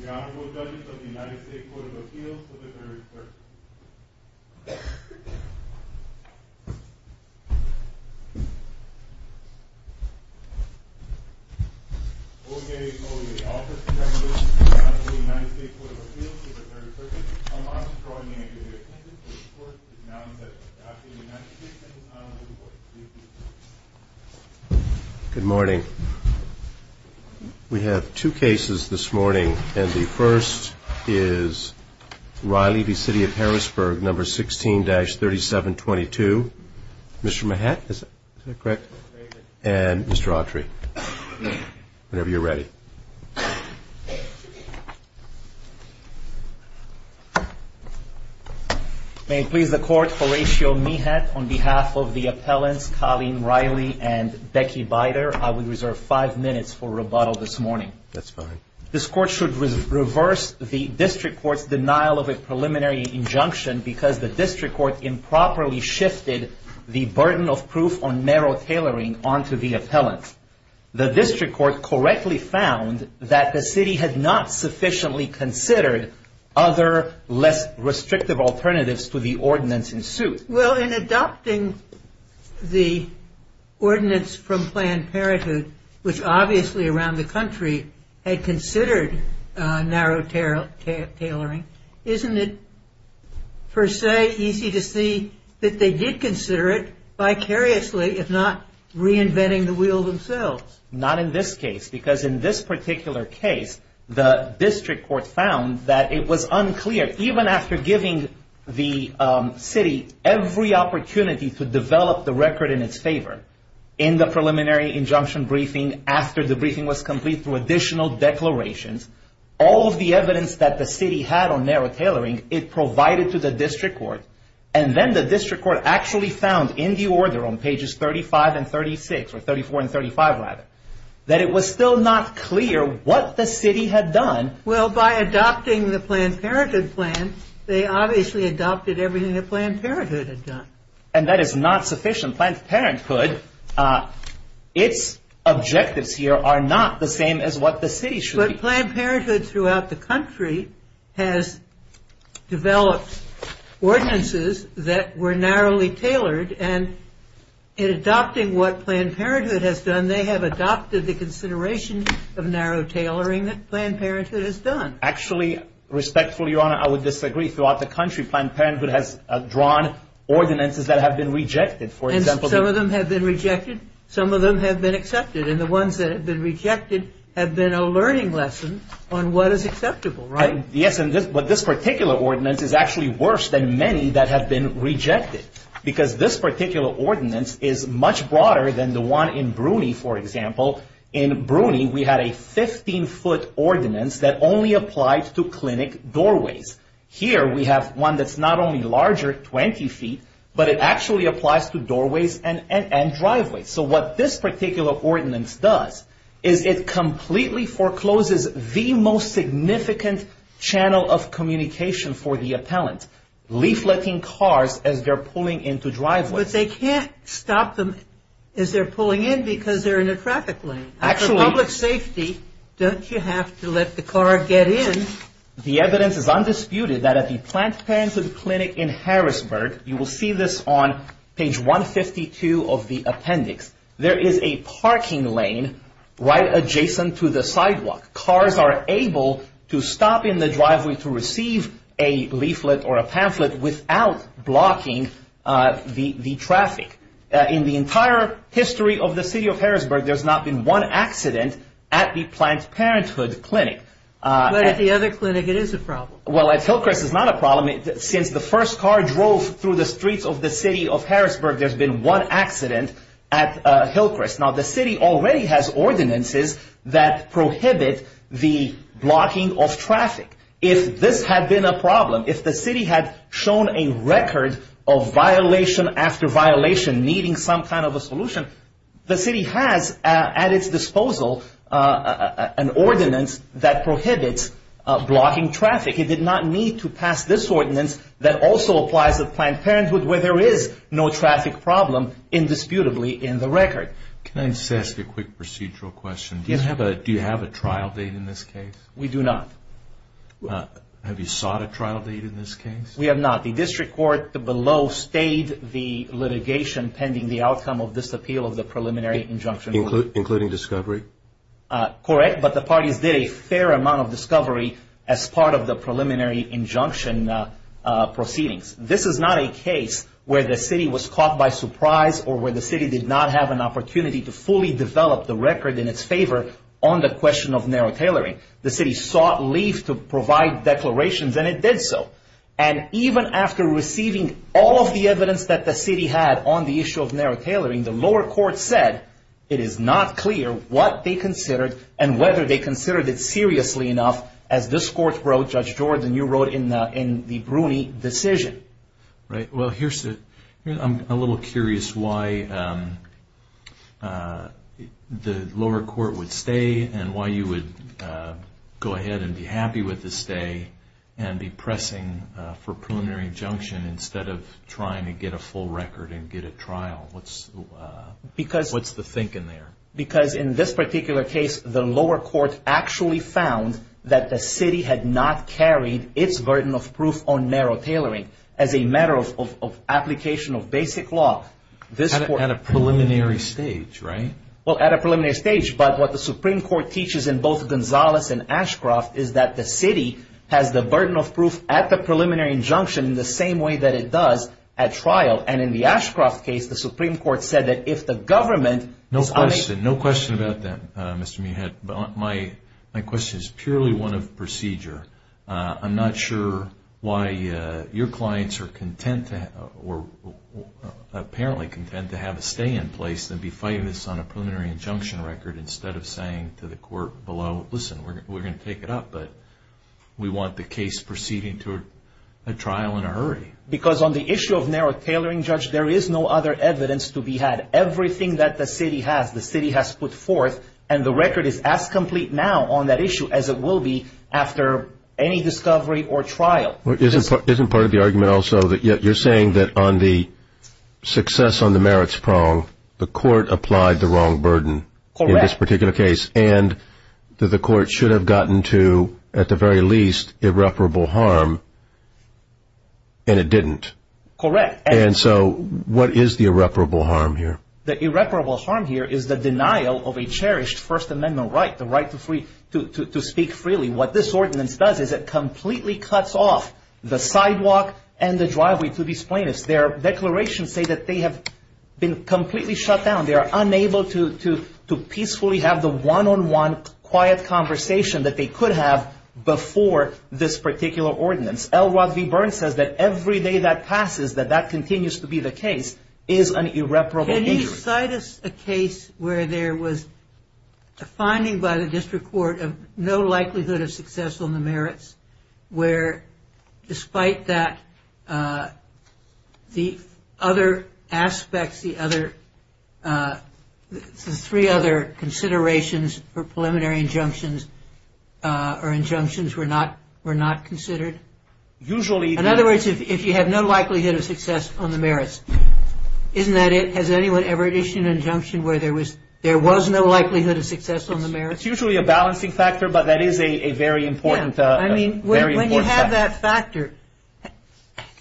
The Honorable Judges of the United States Court of Appeals of the Third Circuit. O.J. Coley, the Office of Justice of the Honorable United States Court of Appeals of the Third Circuit. I'm honored to draw your attention to the report that is now in session. Dr. United States, this is an honorable report. Please be seated. Good morning. We have two cases this morning, and the first is Reilly v. City of Harrisburg, No. 16-3722. Mr. Mehat, is that correct? And Mr. Autry, whenever you're ready. May it please the Court, Horatio Mehat, on behalf of the appellants Colleen Reilly and Becky Bider, I would reserve five minutes for rebuttal this morning. That's fine. This Court should reverse the District Court's denial of a preliminary injunction because the District Court improperly shifted the burden of proof on narrow tailoring onto the appellant. The District Court correctly found that the city had not sufficiently considered other, less restrictive alternatives to the ordinance in suit. Well, in adopting the ordinance from Planned Parenthood, which obviously around the country had considered narrow tailoring, isn't it, per se, easy to see that they did consider it vicariously, if not reinventing the wheel themselves? Not in this case, because in this particular case, the District Court found that it was unclear, even after giving the city every opportunity to develop the record in its favor, in the preliminary injunction briefing, after the briefing was complete, through additional declarations, all of the evidence that the city had on narrow tailoring, it provided to the District Court. And then the District Court actually found, in the order on pages 35 and 36, or 34 and 35, rather, that it was still not clear what the city had done. Well, by adopting the Planned Parenthood plan, they obviously adopted everything that Planned Parenthood had done. And that is not sufficient. Planned Parenthood, its objectives here are not the same as what the city should be. But Planned Parenthood throughout the country has developed ordinances that were narrowly tailored, and in adopting what Planned Parenthood has done, they have adopted the consideration of narrow tailoring that Planned Parenthood has done. Actually, respectfully, Your Honor, I would disagree. Throughout the country, Planned Parenthood has drawn ordinances that have been rejected. And some of them have been rejected? Some of them have been accepted. And the ones that have been rejected have been a learning lesson on what is acceptable, right? Yes, but this particular ordinance is actually worse than many that have been rejected, because this particular ordinance is much broader than the one in Bruny, for example. In Bruny, we had a 15-foot ordinance that only applied to clinic doorways. Here, we have one that's not only larger, 20 feet, but it actually applies to doorways and driveways. So what this particular ordinance does is it completely forecloses the most significant channel of communication for the appellant, leafleting cars as they're pulling into driveways. But they can't stop them as they're pulling in because they're in a traffic lane. Actually... For public safety, don't you have to let the car get in? The evidence is undisputed that at the Planned Parenthood clinic in Harrisburg, you will see this on page 152 of the appendix, there is a parking lane right adjacent to the sidewalk. Cars are able to stop in the driveway to receive a leaflet or a pamphlet without blocking the traffic. In the entire history of the city of Harrisburg, there's not been one accident at the Planned Parenthood clinic. But at the other clinic, it is a problem. Well, at Hillcrest, it's not a problem. Since the first car drove through the streets of the city of Harrisburg, there's been one accident at Hillcrest. Now, the city already has ordinances that prohibit the blocking of traffic. If this had been a problem, if the city had shown a record of violation after violation needing some kind of a solution, the city has at its disposal an ordinance that prohibits blocking traffic. It did not need to pass this ordinance that also applies to Planned Parenthood where there is no traffic problem indisputably in the record. Can I just ask a quick procedural question? Do you have a trial date in this case? We do not. Have you sought a trial date in this case? We have not. The district court below stayed the litigation pending the outcome of this appeal of the preliminary injunction. Including discovery? Correct, but the parties did a fair amount of discovery as part of the preliminary injunction proceedings. This is not a case where the city was caught by surprise or where the city did not have an opportunity to fully develop the record in its favor on the question of narrow tailoring. The city sought leave to provide declarations and it did so. And even after receiving all of the evidence that the city had on the issue of narrow tailoring, the lower court said it is not clear what they considered and whether they considered it seriously enough as this court wrote, Judge Jordan, you wrote in the Bruni decision. Well, I'm a little curious why the lower court would stay and why you would go ahead and be happy with the stay and be pressing for a preliminary injunction instead of trying to get a full record and get a trial. What's the thinking there? Because in this particular case, the lower court actually found that the city had not carried its burden of proof on narrow tailoring as a matter of application of basic law. At a preliminary stage, right? Well, at a preliminary stage, but what the Supreme Court teaches in both Gonzales and Ashcroft is that the city has the burden of proof at the preliminary injunction in the same way that it does at trial. And in the Ashcroft case, the Supreme Court said that if the government... No question, no question about that, Mr. Mihad. My question is purely one of procedure. I'm not sure why your clients are content or apparently content to have a stay in place and be fighting this on a preliminary injunction record instead of saying to the court below, listen, we're going to take it up, but we want the case proceeding to a trial in a hurry. Because on the issue of narrow tailoring, Judge, there is no other evidence to be had. Everything that the city has, the city has put forth, and the record is as complete now on that issue as it will be after any discovery or trial. Isn't part of the argument also that you're saying that on the success on the merits prong, the court applied the wrong burden in this particular case and that the court should have gotten to, at the very least, irreparable harm and it didn't? Correct. And so what is the irreparable harm here? The irreparable harm here is the denial of a cherished First Amendment right, the right to speak freely. What this ordinance does is it completely cuts off the sidewalk and the driveway to these plaintiffs. Their declarations say that they have been completely shut down. They are unable to peacefully have the one-on-one quiet conversation that they could have before this particular ordinance. L. Rodney Byrne says that every day that passes, that that continues to be the case, is an irreparable injury. Could you cite us a case where there was a finding by the district court of no likelihood of success on the merits, where despite that, the other aspects, the three other considerations for preliminary injunctions or injunctions were not considered? In other words, if you have no likelihood of success on the merits, isn't that it? Has anyone ever issued an injunction where there was no likelihood of success on the merits? It's usually a balancing factor, but that is a very important factor. When you have that factor,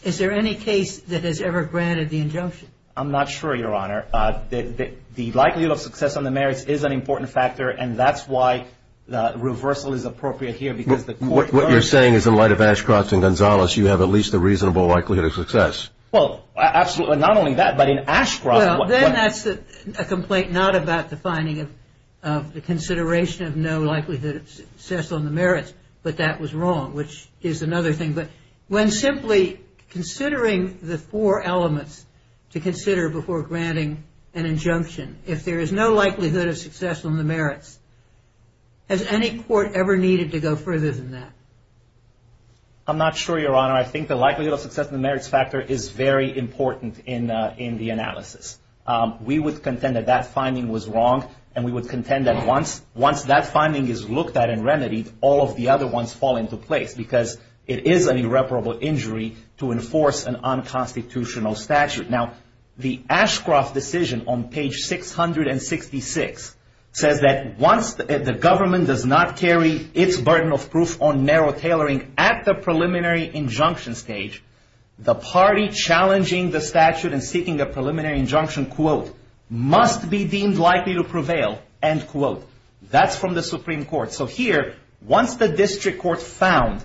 is there any case that has ever granted the injunction? I'm not sure, Your Honor. The likelihood of success on the merits is an important factor and that's why reversal is appropriate here because the court What you're saying is in light of Ashcroft and Gonzales, you have at least a reasonable likelihood of success. Well, absolutely. Not only that, but in Ashcroft, Well, then that's a complaint not about the finding of the consideration of no likelihood of success on the merits, but that was wrong, which is another thing. But when simply considering the four elements to consider before granting an injunction, if there is no likelihood of success on the merits, has any court ever needed to go further than that? I'm not sure, Your Honor. I think the likelihood of success on the merits factor is very important in the analysis. We would contend that that finding was wrong and we would contend that once that finding is looked at and remedied, all of the other ones fall into place because it is an irreparable injury to enforce an unconstitutional statute. Now, the Ashcroft decision on page 666 says that once the government does not carry its burden of proof on narrow tailoring at the preliminary injunction stage, the party challenging the statute and seeking a preliminary injunction, quote, must be deemed likely to prevail, end quote. That's from the Supreme Court. So here, once the district court found,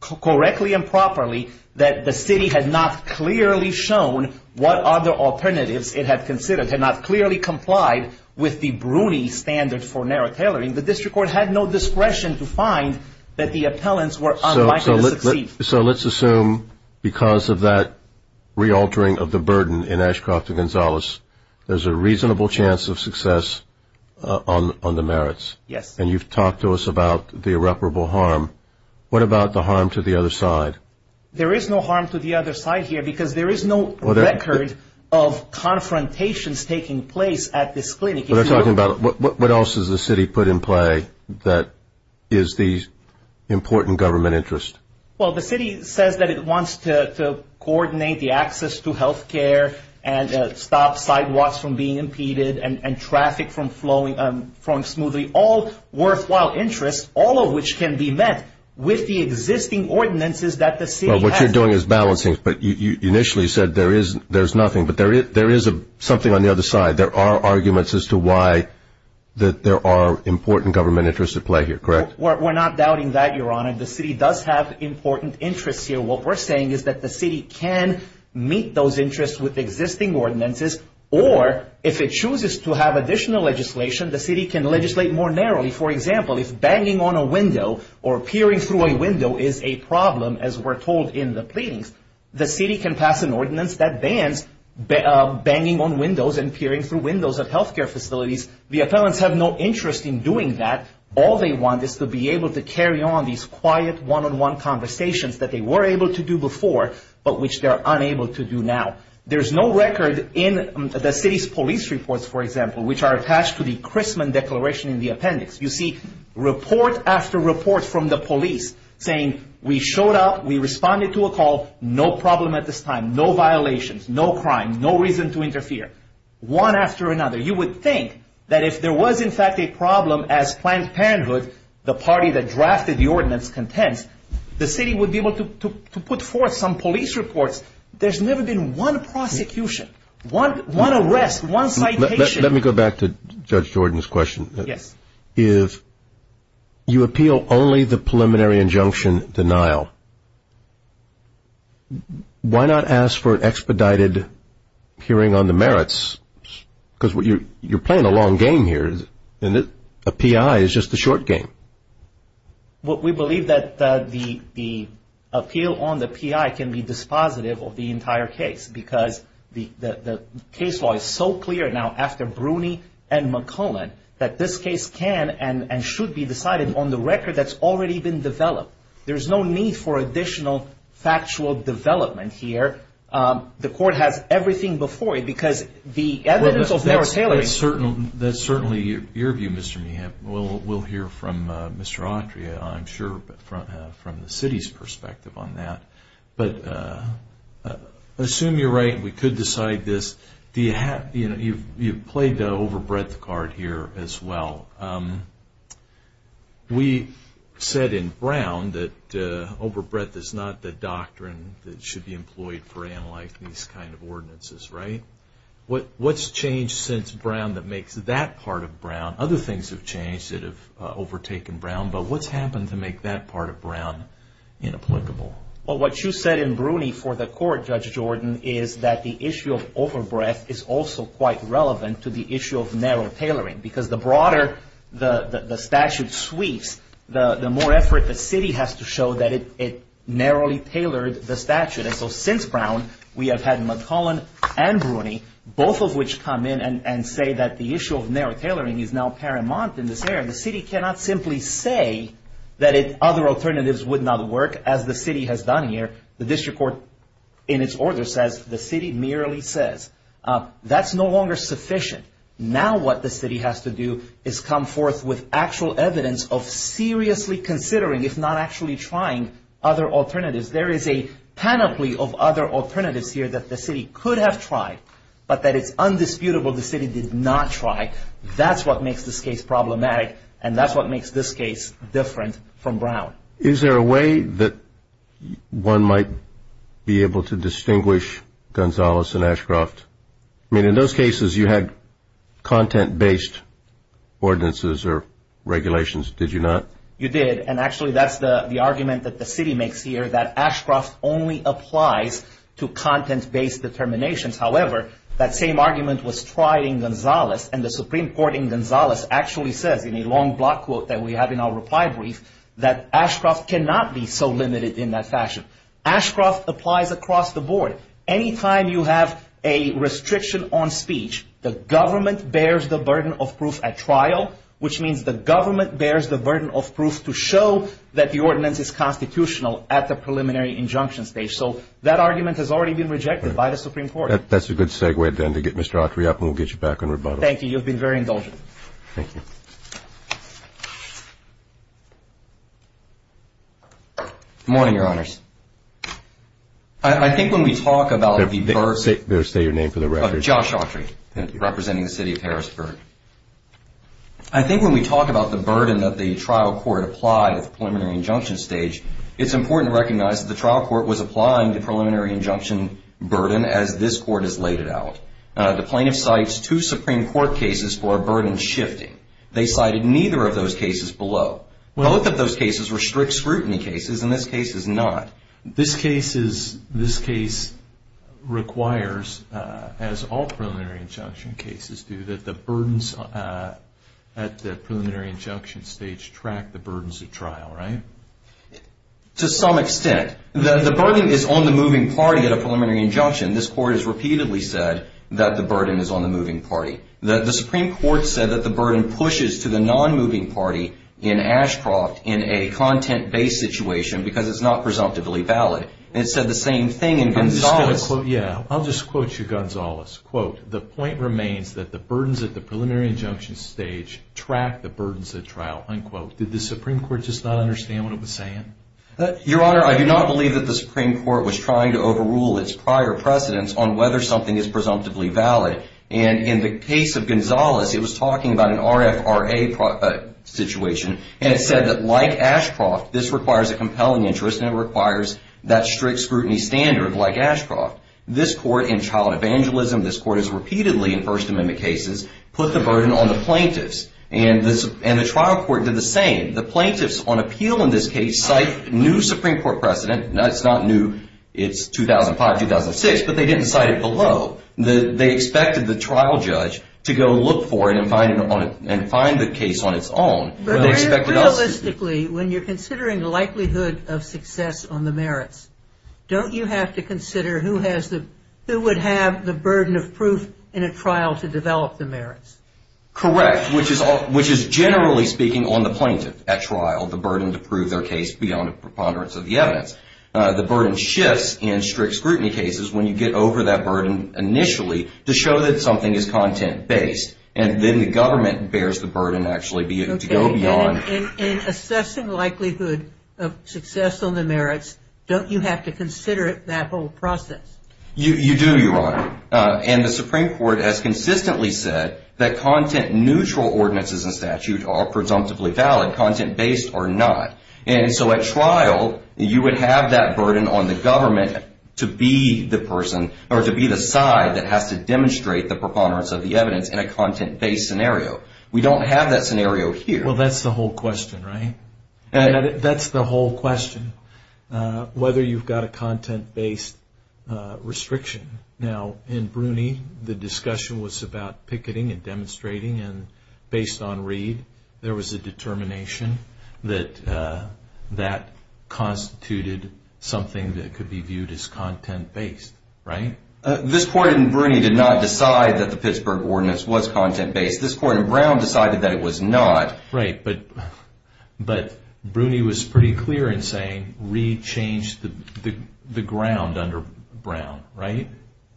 correctly and properly, that the city had not clearly shown what other alternatives it had considered, had not clearly complied with the Bruni standard for narrow tailoring, the district court had no discretion to find that the appellants were unlikely to succeed. So let's assume because of that re-altering of the burden in Ashcroft v. Gonzalez, there's a reasonable chance of success on the merits. Yes. And you've talked to us about the irreparable harm. What about the harm to the other side? There is no harm to the other side here because there is no record of confrontations taking place at this clinic. What else has the city put in play that is the important government interest? Well, the city says that it wants to coordinate the access to health care and stop sidewalks from being impeded and traffic from flowing smoothly, all worthwhile interests, all of which can be met with the existing ordinances that the city has. Well, what you're doing is balancing, but you initially said there's nothing, but there is something on the other side. There are arguments as to why there are important government interests at play here, correct? We're not doubting that, Your Honor. The city does have important interests here. What we're saying is that the city can meet those interests with existing ordinances, or if it chooses to have additional legislation, the city can legislate more narrowly. For example, if banging on a window or peering through a window is a problem, as we're told in the pleadings, the city can pass an ordinance that bans banging on windows and peering through windows at health care facilities. The appellants have no interest in doing that. All they want is to be able to carry on these quiet one-on-one conversations that they were able to do before, but which they're unable to do now. There's no record in the city's police reports, for example, which are attached to the Chrisman Declaration in the appendix. You see report after report from the police saying we showed up, we responded to a call, no problem at this time, no violations, no crime, no reason to interfere. One after another. You would think that if there was, in fact, a problem as Planned Parenthood, the party that drafted the ordinance, contends, the city would be able to put forth some police reports. There's never been one prosecution, one arrest, one citation. Let me go back to Judge Jordan's question. Yes. If you appeal only the preliminary injunction denial, why not ask for an expedited hearing on the merits? Because you're playing a long game here. A P.I. is just a short game. We believe that the appeal on the P.I. can be dispositive of the entire case because the case law is so clear now after Bruni and McClellan that this case can and should be decided on the record that's already been developed. There's no need for additional factual development here. The court has everything before it because the evidence of narrow tailoring. That's certainly your view, Mr. Meehan. We'll hear from Mr. Autry, I'm sure, from the city's perspective on that. But assume you're right and we could decide this. You've played the overbreadth card here as well. We said in Brown that overbreadth is not the doctrine that should be employed for analyzing these kind of ordinances, right? What's changed since Brown that makes that part of Brown? Other things have changed that have overtaken Brown, but what's happened to make that part of Brown inapplicable? Well, what you said in Bruni for the court, Judge Jordan, is that the issue of overbreadth is also quite relevant to the issue of narrow tailoring because the broader the statute sweeps, the more effort the city has to show that it narrowly tailored the statute. And so since Brown, we have had McClellan and Bruni, both of which come in and say that the issue of narrow tailoring is now paramount in this area. The city cannot simply say that other alternatives would not work as the city has done here. The district court, in its order, says the city merely says. That's no longer sufficient. Now what the city has to do is come forth with actual evidence of seriously considering, if not actually trying, other alternatives. There is a panoply of other alternatives here that the city could have tried, but that it's undisputable the city did not try. That's what makes this case problematic, and that's what makes this case different from Brown. Is there a way that one might be able to distinguish Gonzalez and Ashcroft? I mean, in those cases, you had content-based ordinances or regulations, did you not? You did, and actually that's the argument that the city makes here, that Ashcroft only applies to content-based determinations. However, that same argument was tried in Gonzalez, and the Supreme Court in Gonzalez actually says in a long block quote that we have in our reply brief that Ashcroft cannot be so limited in that fashion. Ashcroft applies across the board. Anytime you have a restriction on speech, the government bears the burden of proof at trial, which means the government bears the burden of proof to show that the ordinance is constitutional at the preliminary injunction stage. So that argument has already been rejected by the Supreme Court. That's a good segue, then, to get Mr. Autry up, and we'll get you back on rebuttal. Thank you. You've been very indulgent. Thank you. Good morning, Your Honors. I think when we talk about the burden... Say your name for the record. Josh Autry, representing the city of Harrisburg. I think when we talk about the burden that the trial court applied at the preliminary injunction stage, it's important to recognize that the trial court was applying the preliminary injunction burden as this Court has laid it out. The plaintiff cites two Supreme Court cases for a burden shifting. They cited neither of those cases below. Both of those cases were strict scrutiny cases, and this case is not. This case requires, as all preliminary injunction cases do, that the burdens at the preliminary injunction stage track the burdens of trial, right? To some extent. The burden is on the moving party at a preliminary injunction. This Court has repeatedly said that the burden is on the moving party. The Supreme Court said that the burden pushes to the non-moving party in Ashcroft in a content-based situation because it's not presumptively valid. It said the same thing in Gonzales. Yeah, I'll just quote you Gonzales. Quote, the point remains that the burdens at the preliminary injunction stage track the burdens of trial. Unquote. Did the Supreme Court just not understand what it was saying? Your Honor, I do not believe that the Supreme Court was trying to overrule its prior precedents on whether something is presumptively valid. And in the case of Gonzales, it was talking about an RFRA situation, and it said that like Ashcroft, this requires a compelling interest and it requires that strict scrutiny standard like Ashcroft. This Court in child evangelism, this Court has repeatedly in First Amendment cases, put the burden on the plaintiffs. And the trial court did the same. The plaintiffs on appeal in this case cite new Supreme Court precedent. Now, it's not new. It's 2005, 2006, but they didn't cite it below. They expected the trial judge to go look for it and find the case on its own. Realistically, when you're considering the likelihood of success on the merits, don't you have to consider who would have the burden of proof in a trial to develop the merits? Correct, which is generally speaking on the plaintiff at trial, the burden to prove their case beyond a preponderance of the evidence. The burden shifts in strict scrutiny cases when you get over that burden initially to show that something is content-based. And then the government bears the burden actually to go beyond. In assessing likelihood of success on the merits, don't you have to consider that whole process? You do, Your Honor. And the Supreme Court has consistently said that content-neutral ordinances and statutes are presumptively valid, content-based or not. And so at trial, you would have that burden on the government to be the person or to be the side that has to demonstrate the preponderance of the evidence in a content-based scenario. We don't have that scenario here. Well, that's the whole question, right? That's the whole question, whether you've got a content-based restriction. Now, in Bruny, the discussion was about picketing and demonstrating. And based on Reed, there was a determination that that constituted something that could be viewed as content-based, right? This Court in Bruny did not decide that the Pittsburgh Ordinance was content-based. This Court in Brown decided that it was not. Right, but Bruny was pretty clear in saying Reed changed the ground under Brown, right?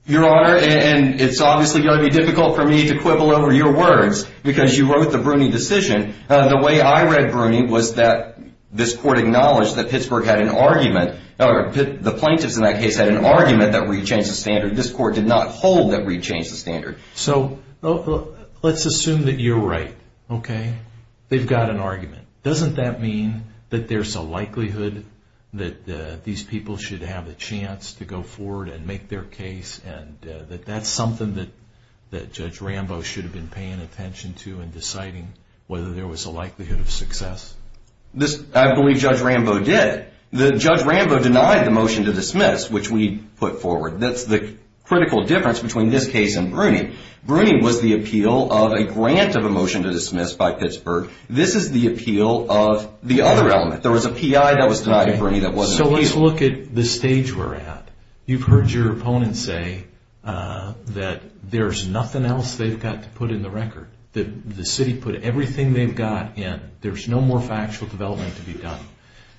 Your Honor, and it's obviously going to be difficult for me to quibble over your words because you wrote the Bruny decision. The way I read Bruny was that this Court acknowledged that Pittsburgh had an argument or the plaintiffs in that case had an argument that Reed changed the standard. This Court did not hold that Reed changed the standard. So let's assume that you're right, okay? They've got an argument. Doesn't that mean that there's a likelihood that these people should have a chance to go forward and make their case and that that's something that Judge Rambo should have been paying attention to and deciding whether there was a likelihood of success? I believe Judge Rambo did. Judge Rambo denied the motion to dismiss, which we put forward. That's the critical difference between this case and Bruny. Bruny was the appeal of a grant of a motion to dismiss by Pittsburgh. This is the appeal of the other element. There was a PI that was denied in Bruny that wasn't in Pittsburgh. So let's look at the stage we're at. You've heard your opponent say that there's nothing else they've got to put in the record, that the city put everything they've got in. There's no more factual development to be done.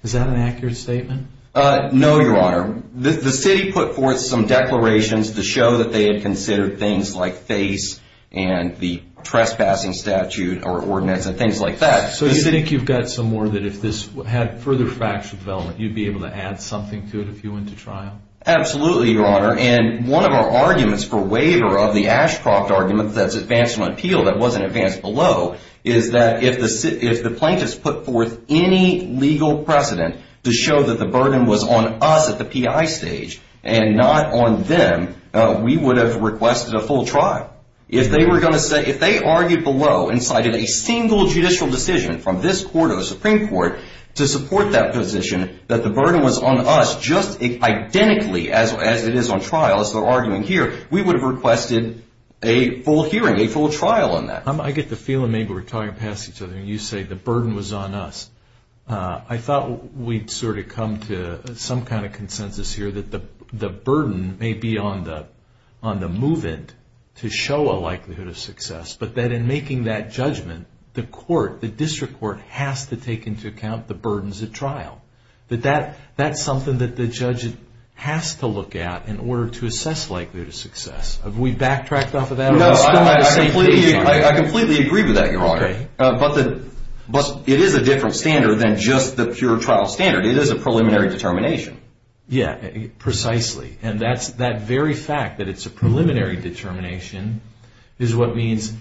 Is that an accurate statement? No, Your Honor. The city put forth some declarations to show that they had considered things like face and the trespassing statute or ordinance and things like that. So you think you've got some more that if this had further factual development, you'd be able to add something to it if you went to trial? Absolutely, Your Honor. And one of our arguments for waiver of the Ashcroft argument that's advanced from appeal that wasn't advanced below is that if the plaintiffs put forth any legal precedent to show that the burden was on us at the PI stage and not on them, we would have requested a full trial. If they argued below and cited a single judicial decision from this court or the Supreme Court to support that position that the burden was on us just identically as it is on trial, as they're arguing here, we would have requested a full hearing, a full trial on that. I get the feeling maybe we're talking past each other and you say the burden was on us. I thought we'd sort of come to some kind of consensus here that the burden may be on the move-in to show a likelihood of success, but that in making that judgment, the court, the district court, has to take into account the burdens at trial, that that's something that the judge has to look at in order to assess likelihood of success. Have we backtracked off of that? No, I completely agree with that, Your Honor. But it is a different standard than just the pure trial standard. It is a preliminary determination. Yeah, precisely. And that very fact that it's a preliminary determination is what means,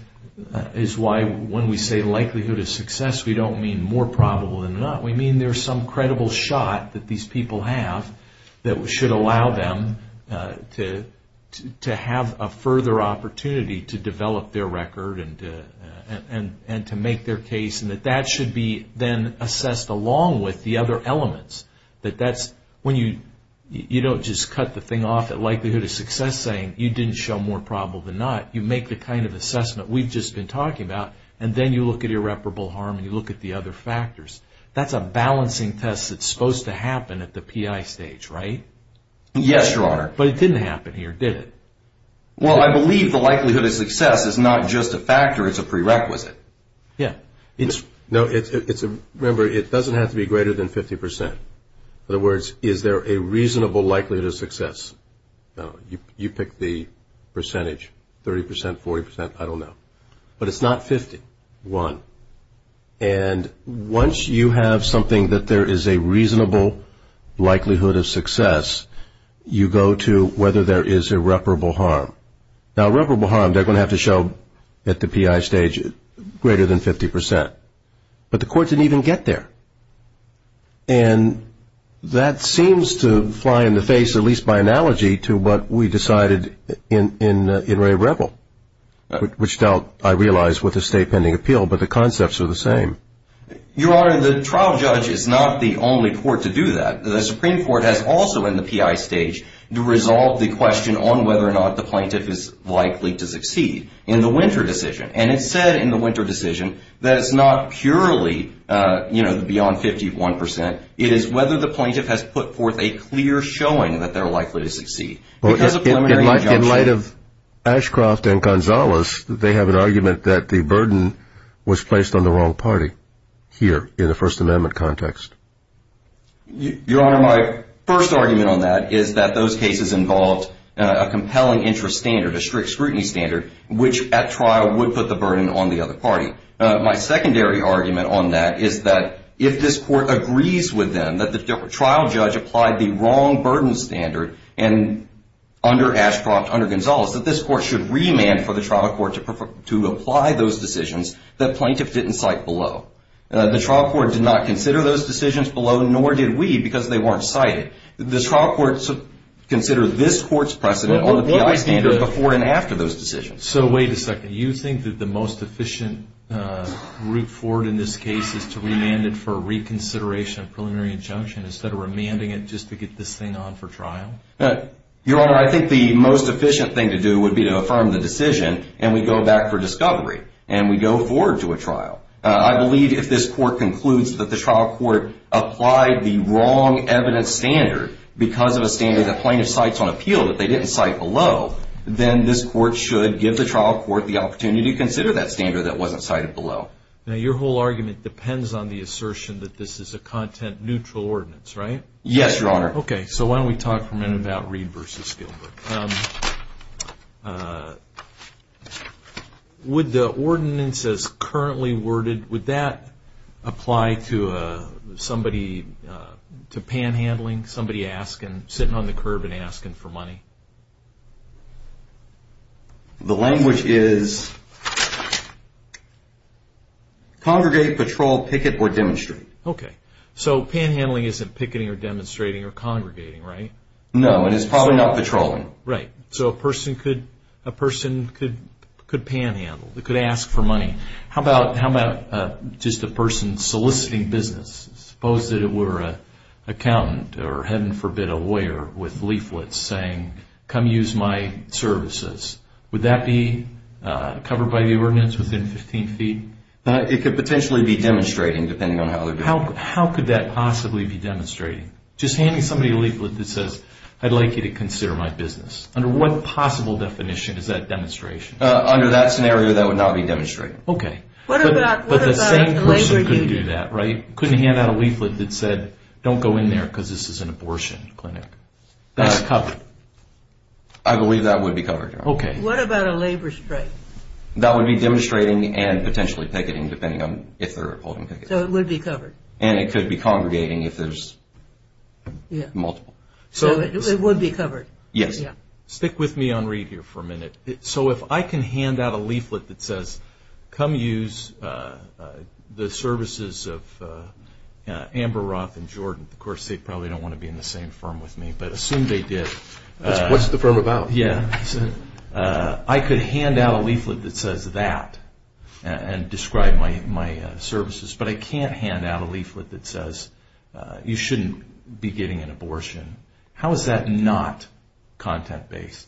is why when we say likelihood of success, we don't mean more probable than not. We mean there's some credible shot that these people have that should allow them to have a further opportunity to develop their record and to make their case and that that should be then assessed along with the other elements. That that's when you don't just cut the thing off at likelihood of success saying you didn't show more probable than not. You make the kind of assessment we've just been talking about, and then you look at irreparable harm and you look at the other factors. That's a balancing test that's supposed to happen at the PI stage, right? Yes, Your Honor. But it didn't happen here, did it? Well, I believe the likelihood of success is not just a factor. It's a prerequisite. Yeah. Remember, it doesn't have to be greater than 50%. In other words, is there a reasonable likelihood of success? You pick the percentage, 30%, 40%, I don't know. But it's not 50, 1. And once you have something that there is a reasonable likelihood of success, you go to whether there is irreparable harm. Now, irreparable harm they're going to have to show at the PI stage greater than 50%. But the court didn't even get there. And that seems to fly in the face, at least by analogy, to what we decided in Ray Revel, which dealt, I realize, with a state pending appeal, but the concepts are the same. Your Honor, the trial judge is not the only court to do that. The Supreme Court has also, in the PI stage, resolved the question on whether or not the plaintiff is likely to succeed in the Winter decision. And it said in the Winter decision that it's not purely, you know, beyond 51%. It is whether the plaintiff has put forth a clear showing that they're likely to succeed. In light of Ashcroft and Gonzalez, they have an argument that the burden was placed on the wrong party here in the First Amendment context. Your Honor, my first argument on that is that those cases involved a compelling interest standard, a strict scrutiny standard, which at trial would put the burden on the other party. My secondary argument on that is that if this court agrees with them that the trial judge applied the wrong burden standard under Ashcroft, under Gonzalez, that this court should remand for the trial court to apply those decisions that plaintiff didn't cite below. The trial court did not consider those decisions below, nor did we, because they weren't cited. The trial court should consider this court's precedent on the PI standard before and after those decisions. So wait a second. You think that the most efficient route forward in this case is to remand it for reconsideration of preliminary injunction instead of remanding it just to get this thing on for trial? Your Honor, I think the most efficient thing to do would be to affirm the decision, and we go back for discovery, and we go forward to a trial. I believe if this court concludes that the trial court applied the wrong evidence standard because of a standard that plaintiff cites on appeal that they didn't cite below, then this court should give the trial court the opportunity to consider that standard that wasn't cited below. Now, your whole argument depends on the assertion that this is a content-neutral ordinance, right? Yes, Your Honor. Okay, so why don't we talk for a minute about Reed v. Gilbert. Would the ordinance as currently worded, would that apply to somebody, to panhandling, somebody sitting on the curb and asking for money? The language is congregate, patrol, picket, or demonstrate. Okay, so panhandling isn't picketing or demonstrating or congregating, right? No, and it's probably not patrolling. Right, so a person could panhandle, could ask for money. How about just a person soliciting business? Suppose that it were an accountant or, heaven forbid, a lawyer with leaflets saying, come use my services, would that be covered by the ordinance within 15 feet? It could potentially be demonstrating, depending on how they're doing. How could that possibly be demonstrating? Just handing somebody a leaflet that says, I'd like you to consider my business. Under what possible definition is that demonstration? Under that scenario, that would not be demonstrating. Okay, but the same person couldn't do that, right? Couldn't hand out a leaflet that said, don't go in there because this is an abortion clinic. That's covered? I believe that would be covered, Your Honor. Okay. What about a labor strike? That would be demonstrating and potentially picketing, depending on if they're holding pickets. So it would be covered? And it could be congregating if there's multiple. So it would be covered? Yes. Stick with me on Reed here for a minute. So if I can hand out a leaflet that says, come use the services of Amber Roth and Jordan. Of course, they probably don't want to be in the same firm with me, but assume they did. What's the firm about? Yeah, I could hand out a leaflet that says that and describe my services, but I can't hand out a leaflet that says you shouldn't be getting an abortion. How is that not content-based?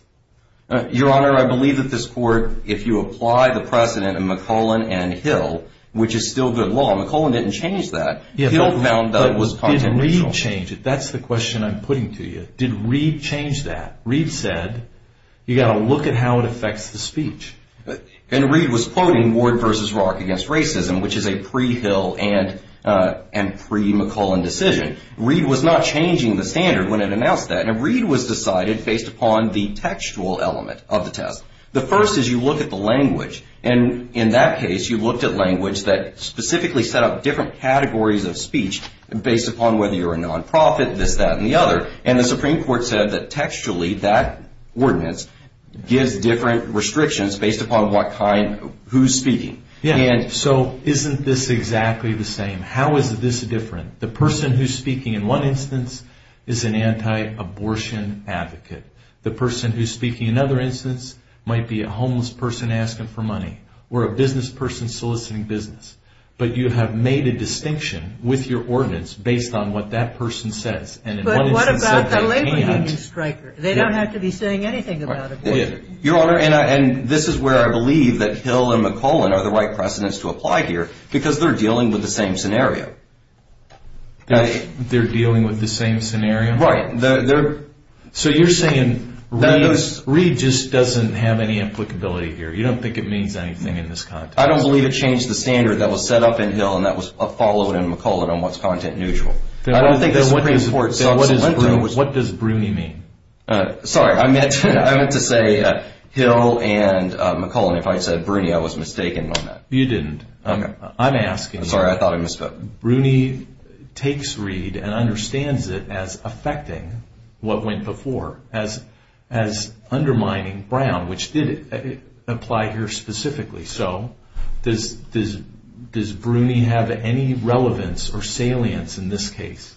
Your Honor, I believe that this Court, if you apply the precedent in McClellan and Hill, which is still good law. McClellan didn't change that. Hill found that was content-based. But did Reed change it? That's the question I'm putting to you. Did Reed change that? Reed said, you've got to look at how it affects the speech. And Reed was quoting Ward v. Roark against racism, which is a pre-Hill and pre-McClellan decision. Reed was not changing the standard when it announced that. And Reed was decided based upon the textual element of the test. The first is you look at the language. And in that case, you looked at language that specifically set up different categories of speech based upon whether you're a nonprofit, this, that, and the other. And the Supreme Court said that textually, that ordinance gives different restrictions based upon who's speaking. So isn't this exactly the same? How is this different? The person who's speaking in one instance is an anti-abortion advocate. The person who's speaking in another instance might be a homeless person asking for money or a business person soliciting business. But you have made a distinction with your ordinance based on what that person says. But what about the labor union striker? They don't have to be saying anything about abortion. Your Honor, and this is where I believe that Hill and McClellan are the right precedents to apply here because they're dealing with the same scenario. They're dealing with the same scenario? Right. So you're saying Reed just doesn't have any applicability here? You don't think it means anything in this context? I don't believe it changed the standard that was set up in Hill and that was followed in McClellan on what's content neutral. I don't think the Supreme Court subsequently was. What does Bruni mean? Sorry, I meant to say Hill and McClellan. If I said Bruni, I was mistaken on that. You didn't. I'm asking you. I'm sorry. I thought I misspoke. Bruni takes Reed and understands it as affecting what went before, as undermining Brown, which did apply here specifically. So does Bruni have any relevance or salience in this case?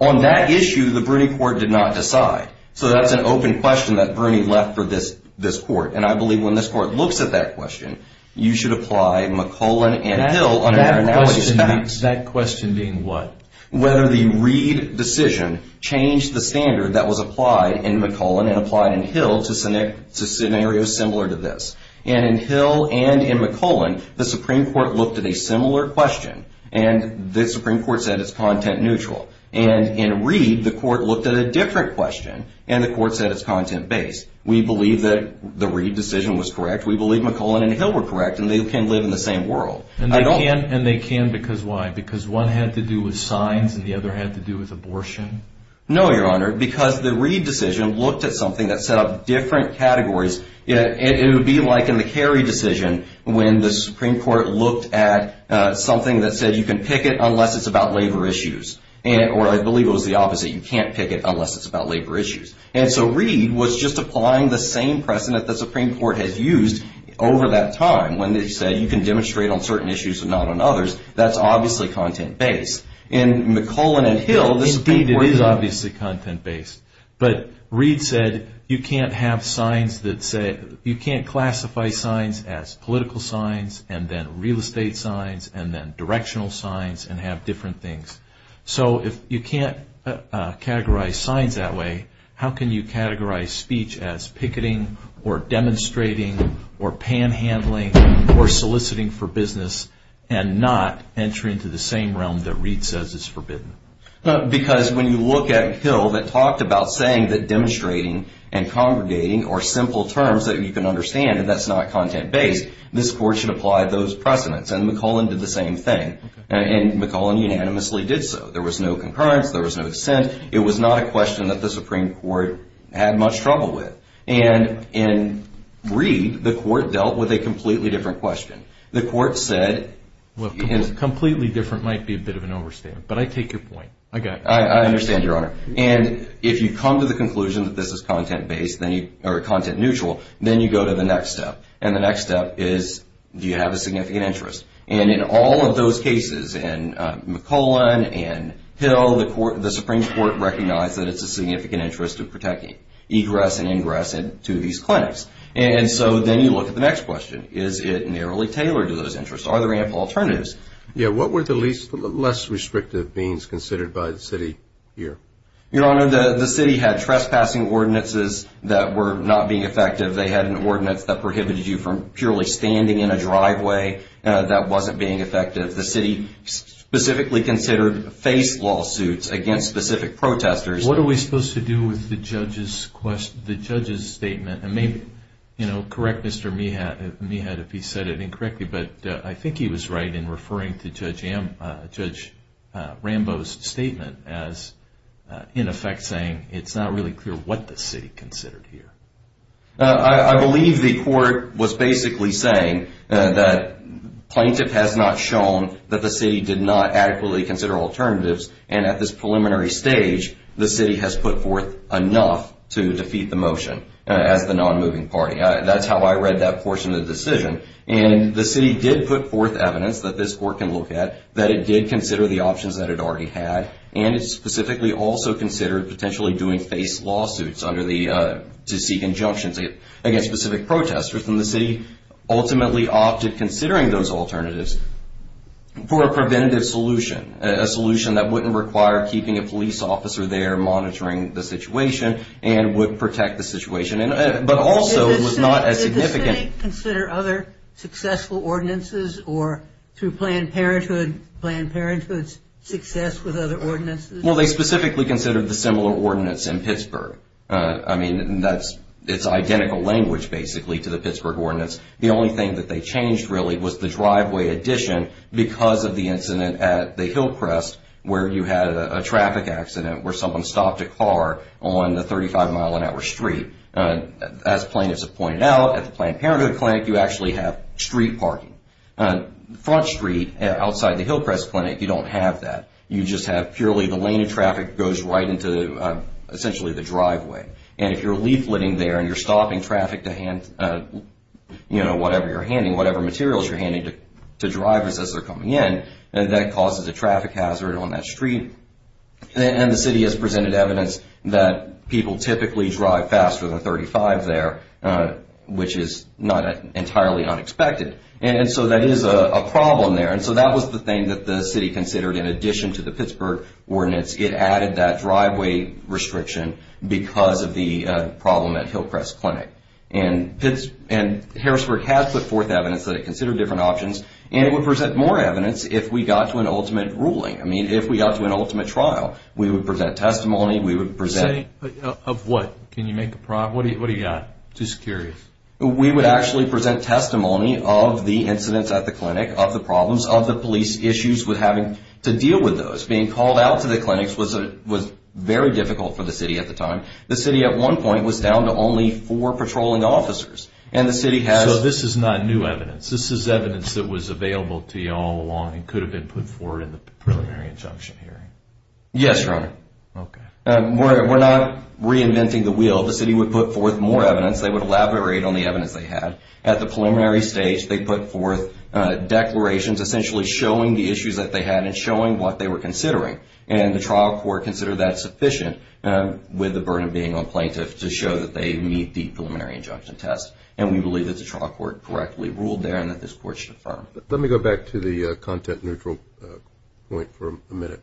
On that issue, the Bruni court did not decide. So that's an open question that Bruni left for this court, and I believe when this court looks at that question, you should apply McClellan and Hill under analogous facts. That question being what? Whether the Reed decision changed the standard that was applied in McClellan and applied in Hill to scenarios similar to this. And in Hill and in McClellan, the Supreme Court looked at a similar question, and the Supreme Court said it's content neutral. And in Reed, the court looked at a different question, and the court said it's content based. We believe that the Reed decision was correct. We believe McClellan and Hill were correct, and they can live in the same world. And they can because why? Because one had to do with signs and the other had to do with abortion? No, Your Honor, because the Reed decision looked at something that set up different categories. It would be like in the Carey decision when the Supreme Court looked at something that said you can pick it unless it's about labor issues, or I believe it was the opposite. You can't pick it unless it's about labor issues. And so Reed was just applying the same precedent the Supreme Court has used over that time when they said you can demonstrate on certain issues and not on others. That's obviously content based. In McClellan and Hill, the Supreme Court said. Indeed it is obviously content based. But Reed said you can't have signs that say, you can't classify signs as political signs and then real estate signs and then directional signs and have different things. So if you can't categorize signs that way, how can you categorize speech as picketing or demonstrating or panhandling or soliciting for business and not entering into the same realm that Reed says is forbidden? Because when you look at Hill that talked about saying that demonstrating and congregating are simple terms that you can understand and that's not content based, this Court should apply those precedents. And McClellan did the same thing. And McClellan unanimously did so. There was no concurrence. There was no dissent. It was not a question that the Supreme Court had much trouble with. And in Reed, the Court dealt with a completely different question. The Court said. Completely different might be a bit of an overstatement. But I take your point. I understand, Your Honor. And if you come to the conclusion that this is content neutral, then you go to the next step. And the next step is do you have a significant interest? And in all of those cases, in McClellan, in Hill, the Supreme Court recognized that it's a significant interest to protect egress and ingress to these clinics. And so then you look at the next question. Is it narrowly tailored to those interests? Are there ample alternatives? Yeah. What were the less restrictive means considered by the city here? Your Honor, the city had trespassing ordinances that were not being effective. They had an ordinance that prohibited you from purely standing in a driveway that wasn't being effective. The city specifically considered face lawsuits against specific protesters. What are we supposed to do with the judge's statement? And maybe correct Mr. Meehat if he said it incorrectly, but I think he was right in referring to Judge Rambo's statement as, in effect, saying it's not really clear what the city considered here. I believe the court was basically saying that plaintiff has not shown that the city did not adequately consider alternatives. And at this preliminary stage, the city has put forth enough to defeat the motion as the non-moving party. That's how I read that portion of the decision. And the city did put forth evidence that this court can look at that it did consider the options that it already had, and it specifically also considered potentially doing face lawsuits to seek injunctions against specific protesters. And the city ultimately opted, considering those alternatives, for a preventative solution, a solution that wouldn't require keeping a police officer there monitoring the situation and would protect the situation, but also was not as significant. Did they consider other successful ordinances or through Planned Parenthood's success with other ordinances? Well, they specifically considered the similar ordinance in Pittsburgh. I mean, it's identical language, basically, to the Pittsburgh ordinance. The only thing that they changed, really, was the driveway addition because of the incident at the Hillcrest where you had a traffic accident where someone stopped a car on the 35-mile-an-hour street. As plaintiffs have pointed out, at the Planned Parenthood clinic, you actually have street parking. Front street, outside the Hillcrest clinic, you don't have that. You just have purely the lane of traffic goes right into essentially the driveway. And if you're leafleting there and you're stopping traffic to hand, you know, whatever you're handing, whatever materials you're handing to drivers as they're coming in, that causes a traffic hazard on that street. And the city has presented evidence that people typically drive faster than 35 there, which is not entirely unexpected. And so that is a problem there. And so that was the thing that the city considered in addition to the Pittsburgh ordinance. It added that driveway restriction because of the problem at Hillcrest clinic. And Harrisburg has put forth evidence that it considered different options, and it would present more evidence if we got to an ultimate ruling. I mean, if we got to an ultimate trial, we would present testimony, we would present. Of what? Can you make a problem? What do you got? Just curious. We would actually present testimony of the incidents at the clinic, of the problems, of the police issues with having to deal with those. Being called out to the clinics was very difficult for the city at the time. The city at one point was down to only four patrolling officers. So this is not new evidence. This is evidence that was available to you all along and could have been put forward in the preliminary injunction hearing. Yes, Your Honor. Okay. We're not reinventing the wheel. The city would put forth more evidence. They would elaborate on the evidence they had. At the preliminary stage, they put forth declarations, essentially showing the issues that they had and showing what they were considering. And the trial court considered that sufficient, with the burden being on plaintiffs, to show that they meet the preliminary injunction test. And we believe that the trial court correctly ruled there and that this court should affirm. Let me go back to the content-neutral point for a minute.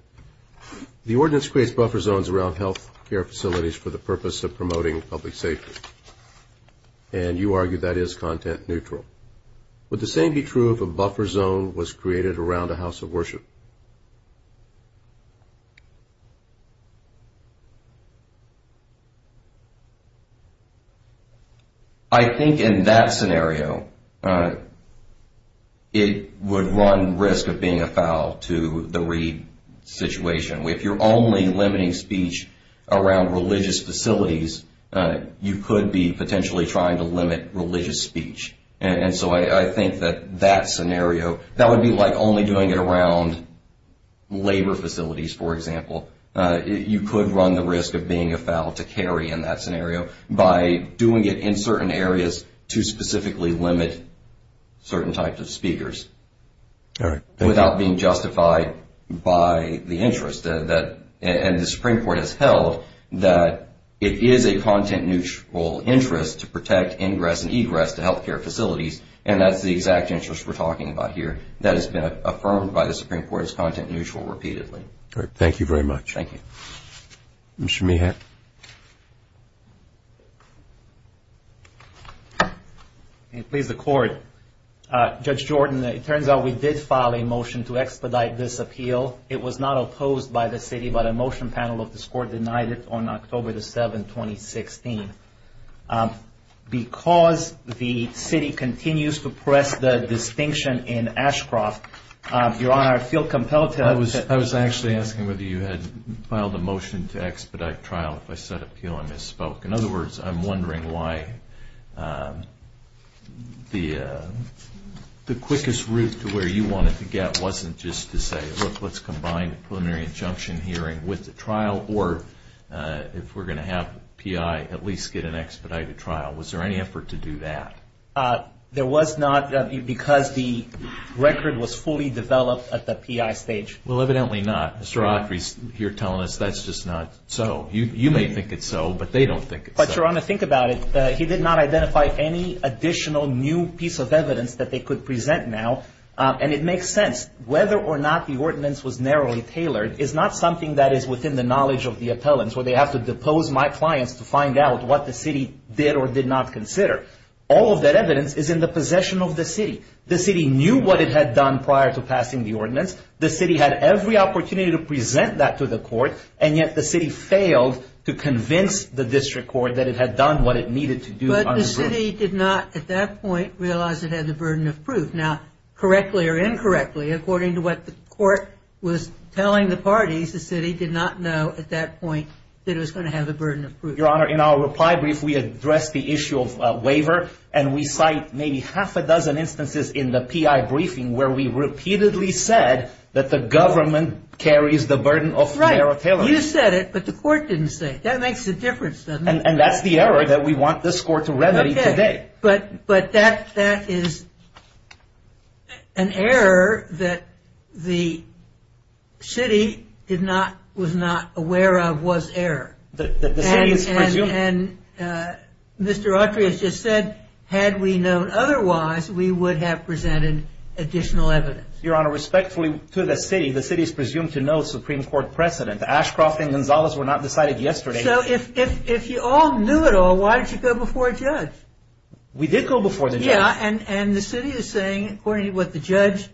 The ordinance creates buffer zones around health care facilities for the purpose of promoting public safety. And you argue that is content-neutral. Would the same be true if a buffer zone was created around a house of worship? I think in that scenario, it would run risk of being a foul to the Reed situation. If you're only limiting speech around religious facilities, you could be potentially trying to limit religious speech. And so I think that that scenario, that would be like only doing it around a house of worship. Labor facilities, for example, you could run the risk of being a foul to Kerry in that scenario by doing it in certain areas to specifically limit certain types of speakers without being justified by the interest. And the Supreme Court has held that it is a content-neutral interest to protect ingress and egress to health care facilities, and that's the exact interest we're talking about here. That has been affirmed by the Supreme Court as content-neutral repeatedly. All right. Thank you very much. Thank you. Mr. Meehan. Please, the court. Judge Jordan, it turns out we did file a motion to expedite this appeal. It was not opposed by the city, but a motion panel of this court denied it on October the 7th, 2016. Because the city continues to press the distinction in Ashcroft, Your Honor, I feel compelled to... I was actually asking whether you had filed a motion to expedite trial. If I said appeal, I misspoke. In other words, I'm wondering why the quickest route to where you wanted to get wasn't just to say, look, let's combine preliminary injunction hearing with the trial, or if we're going to have PI at least get an expedited trial. Was there any effort to do that? There was not, because the record was fully developed at the PI stage. Well, evidently not. Mr. Autry, you're telling us that's just not so. You may think it's so, but they don't think it's so. But, Your Honor, think about it. He did not identify any additional new piece of evidence that they could present now, and it makes sense. Whether or not the ordinance was narrowly tailored is not something that is within the knowledge of the appellants, where they have to depose my clients to find out what the city did or did not consider. All of that evidence is in the possession of the city. The city knew what it had done prior to passing the ordinance. The city had every opportunity to present that to the court, and yet the city failed to convince the district court that it had done what it needed to do. But the city did not at that point realize it had the burden of proof. Now, correctly or incorrectly, according to what the court was telling the parties, the city did not know at that point that it was going to have the burden of proof. Your Honor, in our reply brief, we addressed the issue of waiver, and we cite maybe half a dozen instances in the PI briefing where we repeatedly said that the government carries the burden of narrow tailoring. Right. You said it, but the court didn't say it. That makes a difference, doesn't it? And that's the error that we want this court to remedy today. But that is an error that the city was not aware of was error. And Mr. Autry has just said, had we known otherwise, we would have presented additional evidence. Your Honor, respectfully to the city, the city is presumed to know Supreme Court precedent. Ashcroft and Gonzalez were not decided yesterday. So if you all knew it all, why did you go before a judge? We did go before the judge. Yeah, and the city is saying, according to what the judge,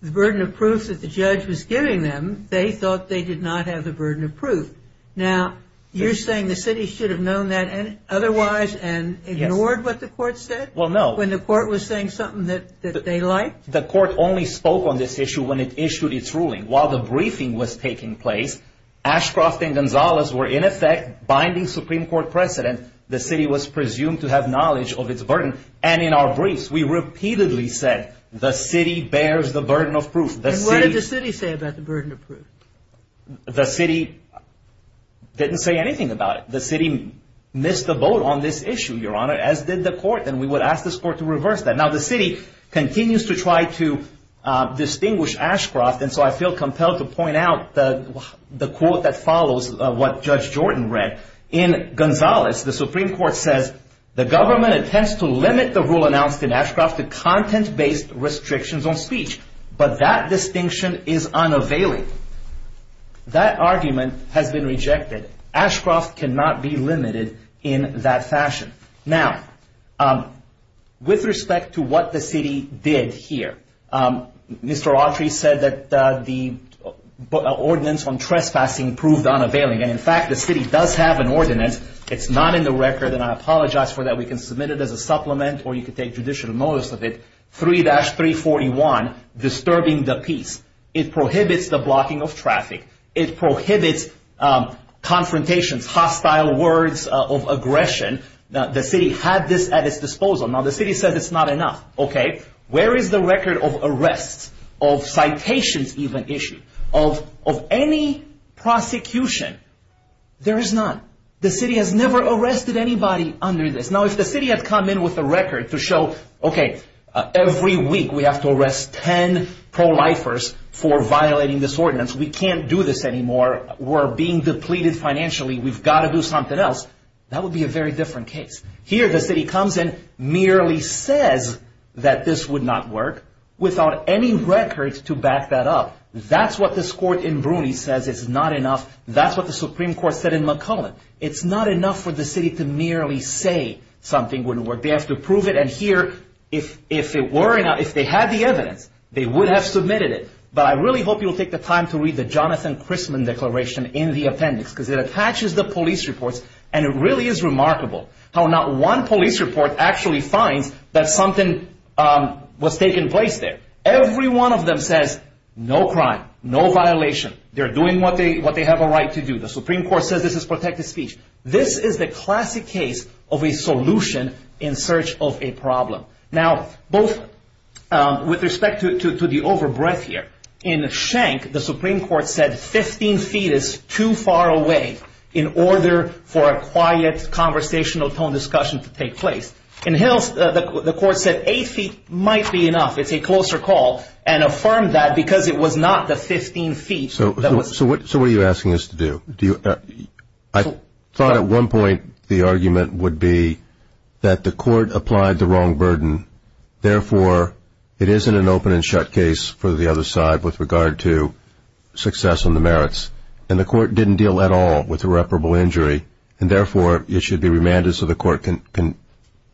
the burden of proof that the judge was giving them, they thought they did not have the burden of proof. Now, you're saying the city should have known that otherwise and ignored what the court said? Well, no. When the court was saying something that they liked? The court only spoke on this issue when it issued its ruling. While the briefing was taking place, Ashcroft and Gonzalez were in effect binding Supreme Court precedent. The city was presumed to have knowledge of its burden. And in our briefs, we repeatedly said the city bears the burden of proof. What did the city say about the burden of proof? The city didn't say anything about it. The city missed the boat on this issue, Your Honor, as did the court. And we would ask this court to reverse that. Now, the city continues to try to distinguish Ashcroft. And so I feel compelled to point out the quote that follows what Judge Jordan read. In Gonzalez, the Supreme Court says, the government intends to limit the rule announced in Ashcroft to content-based restrictions on speech. But that distinction is unavailable. That argument has been rejected. Ashcroft cannot be limited in that fashion. Now, with respect to what the city did here, Mr. Autry said that the ordinance on trespassing proved unavailing. And, in fact, the city does have an ordinance. It's not in the record, and I apologize for that. We can submit it as a supplement, or you can take judicial notice of it. 3-341, disturbing the peace. It prohibits the blocking of traffic. It prohibits confrontations, hostile words of aggression. The city had this at its disposal. Now, the city said it's not enough. Where is the record of arrests, of citations even issued, of any prosecution? There is none. The city has never arrested anybody under this. Now, if the city had come in with a record to show, okay, every week we have to arrest 10 pro-lifers for violating this ordinance, we can't do this anymore, we're being depleted financially, we've got to do something else, that would be a very different case. Here, the city comes in, merely says that this would not work, without any record to back that up. That's what this court in Bruny says is not enough. That's what the Supreme Court said in McClellan. It's not enough for the city to merely say something wouldn't work. They have to prove it, and here, if they had the evidence, they would have submitted it. But I really hope you'll take the time to read the Jonathan Chrisman Declaration in the appendix, because it attaches the police reports, and it really is remarkable how not one police report actually finds that something was taking place there. Every one of them says, no crime, no violation. They're doing what they have a right to do. The Supreme Court says this is protected speech. This is the classic case of a solution in search of a problem. Now, both with respect to the over-breath here, In Schenck, the Supreme Court said 15 feet is too far away in order for a quiet conversational tone discussion to take place. In Hills, the court said 8 feet might be enough. It's a closer call, and affirmed that because it was not the 15 feet. So what are you asking us to do? I thought at one point the argument would be that the court applied the wrong burden. Therefore, it isn't an open and shut case for the other side with regard to success on the merits. And the court didn't deal at all with irreparable injury. And therefore, it should be remanded so the court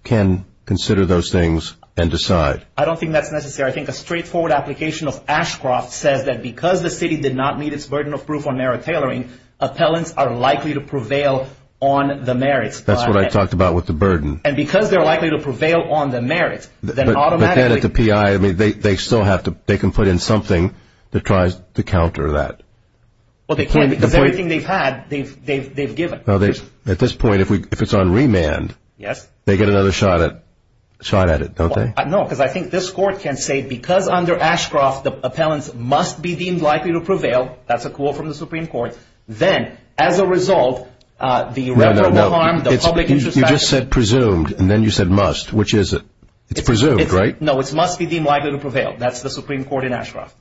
can consider those things and decide. I don't think that's necessary. I think a straightforward application of Ashcroft says that because the city did not meet its burden of proof on merit tailoring, appellants are likely to prevail on the merits. That's what I talked about with the burden. And because they're likely to prevail on the merits, then automatically... But then at the PI, they can still put in something that tries to counter that. Well, they can't because everything they've had, they've given. At this point, if it's on remand, they get another shot at it, don't they? No, because I think this court can say because under Ashcroft the appellants must be deemed likely to prevail, that's a quote from the Supreme Court, then as a result, the irreparable harm, the public interest... You just said presumed, and then you said must. Which is it? It's presumed, right? No, it's must be deemed likely to prevail. That's the Supreme Court in Ashcroft.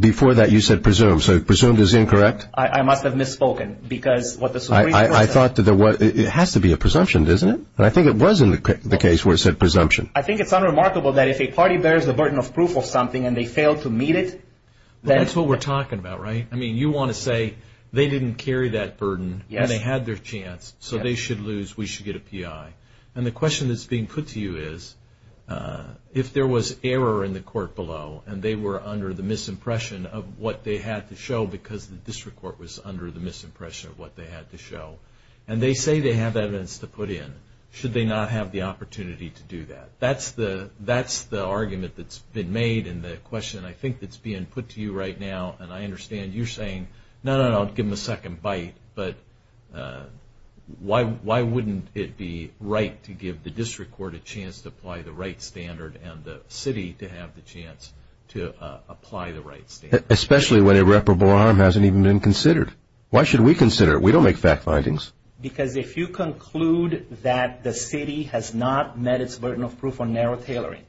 Before that, you said presumed. So presumed is incorrect? I must have misspoken because what the Supreme Court said... I thought that there was... It has to be a presumption, doesn't it? And I think it was in the case where it said presumption. I think it's unremarkable that if a party bears the burden of proof of something and they fail to meet it, then... That's what we're talking about, right? I mean, you want to say they didn't carry that burden and they had their chance. So they should lose, we should get a PI. And the question that's being put to you is, if there was error in the court below and they were under the misimpression of what they had to show because the district court was under the misimpression of what they had to show, and they say they have evidence to put in, should they not have the opportunity to do that? That's the argument that's been made and the question I think that's being put to you right now, and I understand you're saying, no, no, no, give them a second bite, but why wouldn't it be right to give the district court a chance to apply the right standard and the city to have the chance to apply the right standard? Especially when irreparable harm hasn't even been considered. Why should we consider it? We don't make fact findings. Because if you conclude that the city has not met its burden of proof on narrow tailoring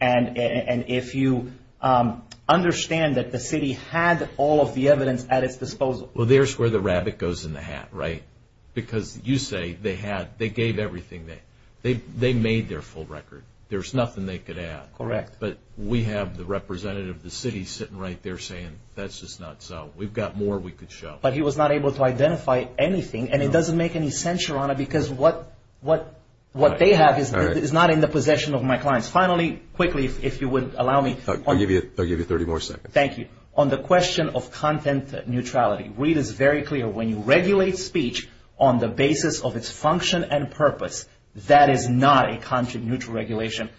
and if you understand that the city had all of the evidence at its disposal. Well, there's where the rabbit goes in the hat, right? Because you say they gave everything. They made their full record. There's nothing they could add. Correct. But we have the representative of the city sitting right there saying, that's just not so. We've got more we could show. Because what they have is not in the possession of my clients. Finally, quickly, if you would allow me. I'll give you 30 more seconds. Thank you. On the question of content neutrality, Reid is very clear when you regulate speech on the basis of its function and purpose, that is not a content neutral regulation.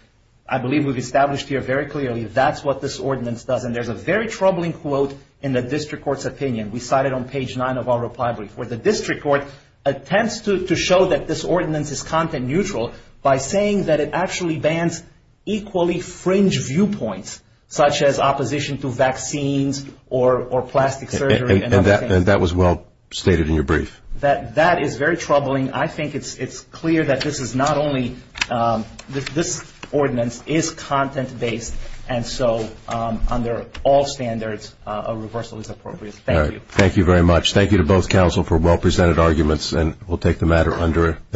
I believe we've established here very clearly that's what this ordinance does, and there's a very troubling quote in the district court's opinion. We cite it on page nine of our reply brief, where the district court attempts to show that this ordinance is content neutral by saying that it actually bans equally fringe viewpoints, such as opposition to vaccines or plastic surgery. And that was well stated in your brief. That is very troubling. I think it's clear that this is not only this ordinance is content based, and so under all standards a reversal is appropriate. Thank you. Thank you very much. Thank you to both counsel for well presented arguments, and we'll take the matter under.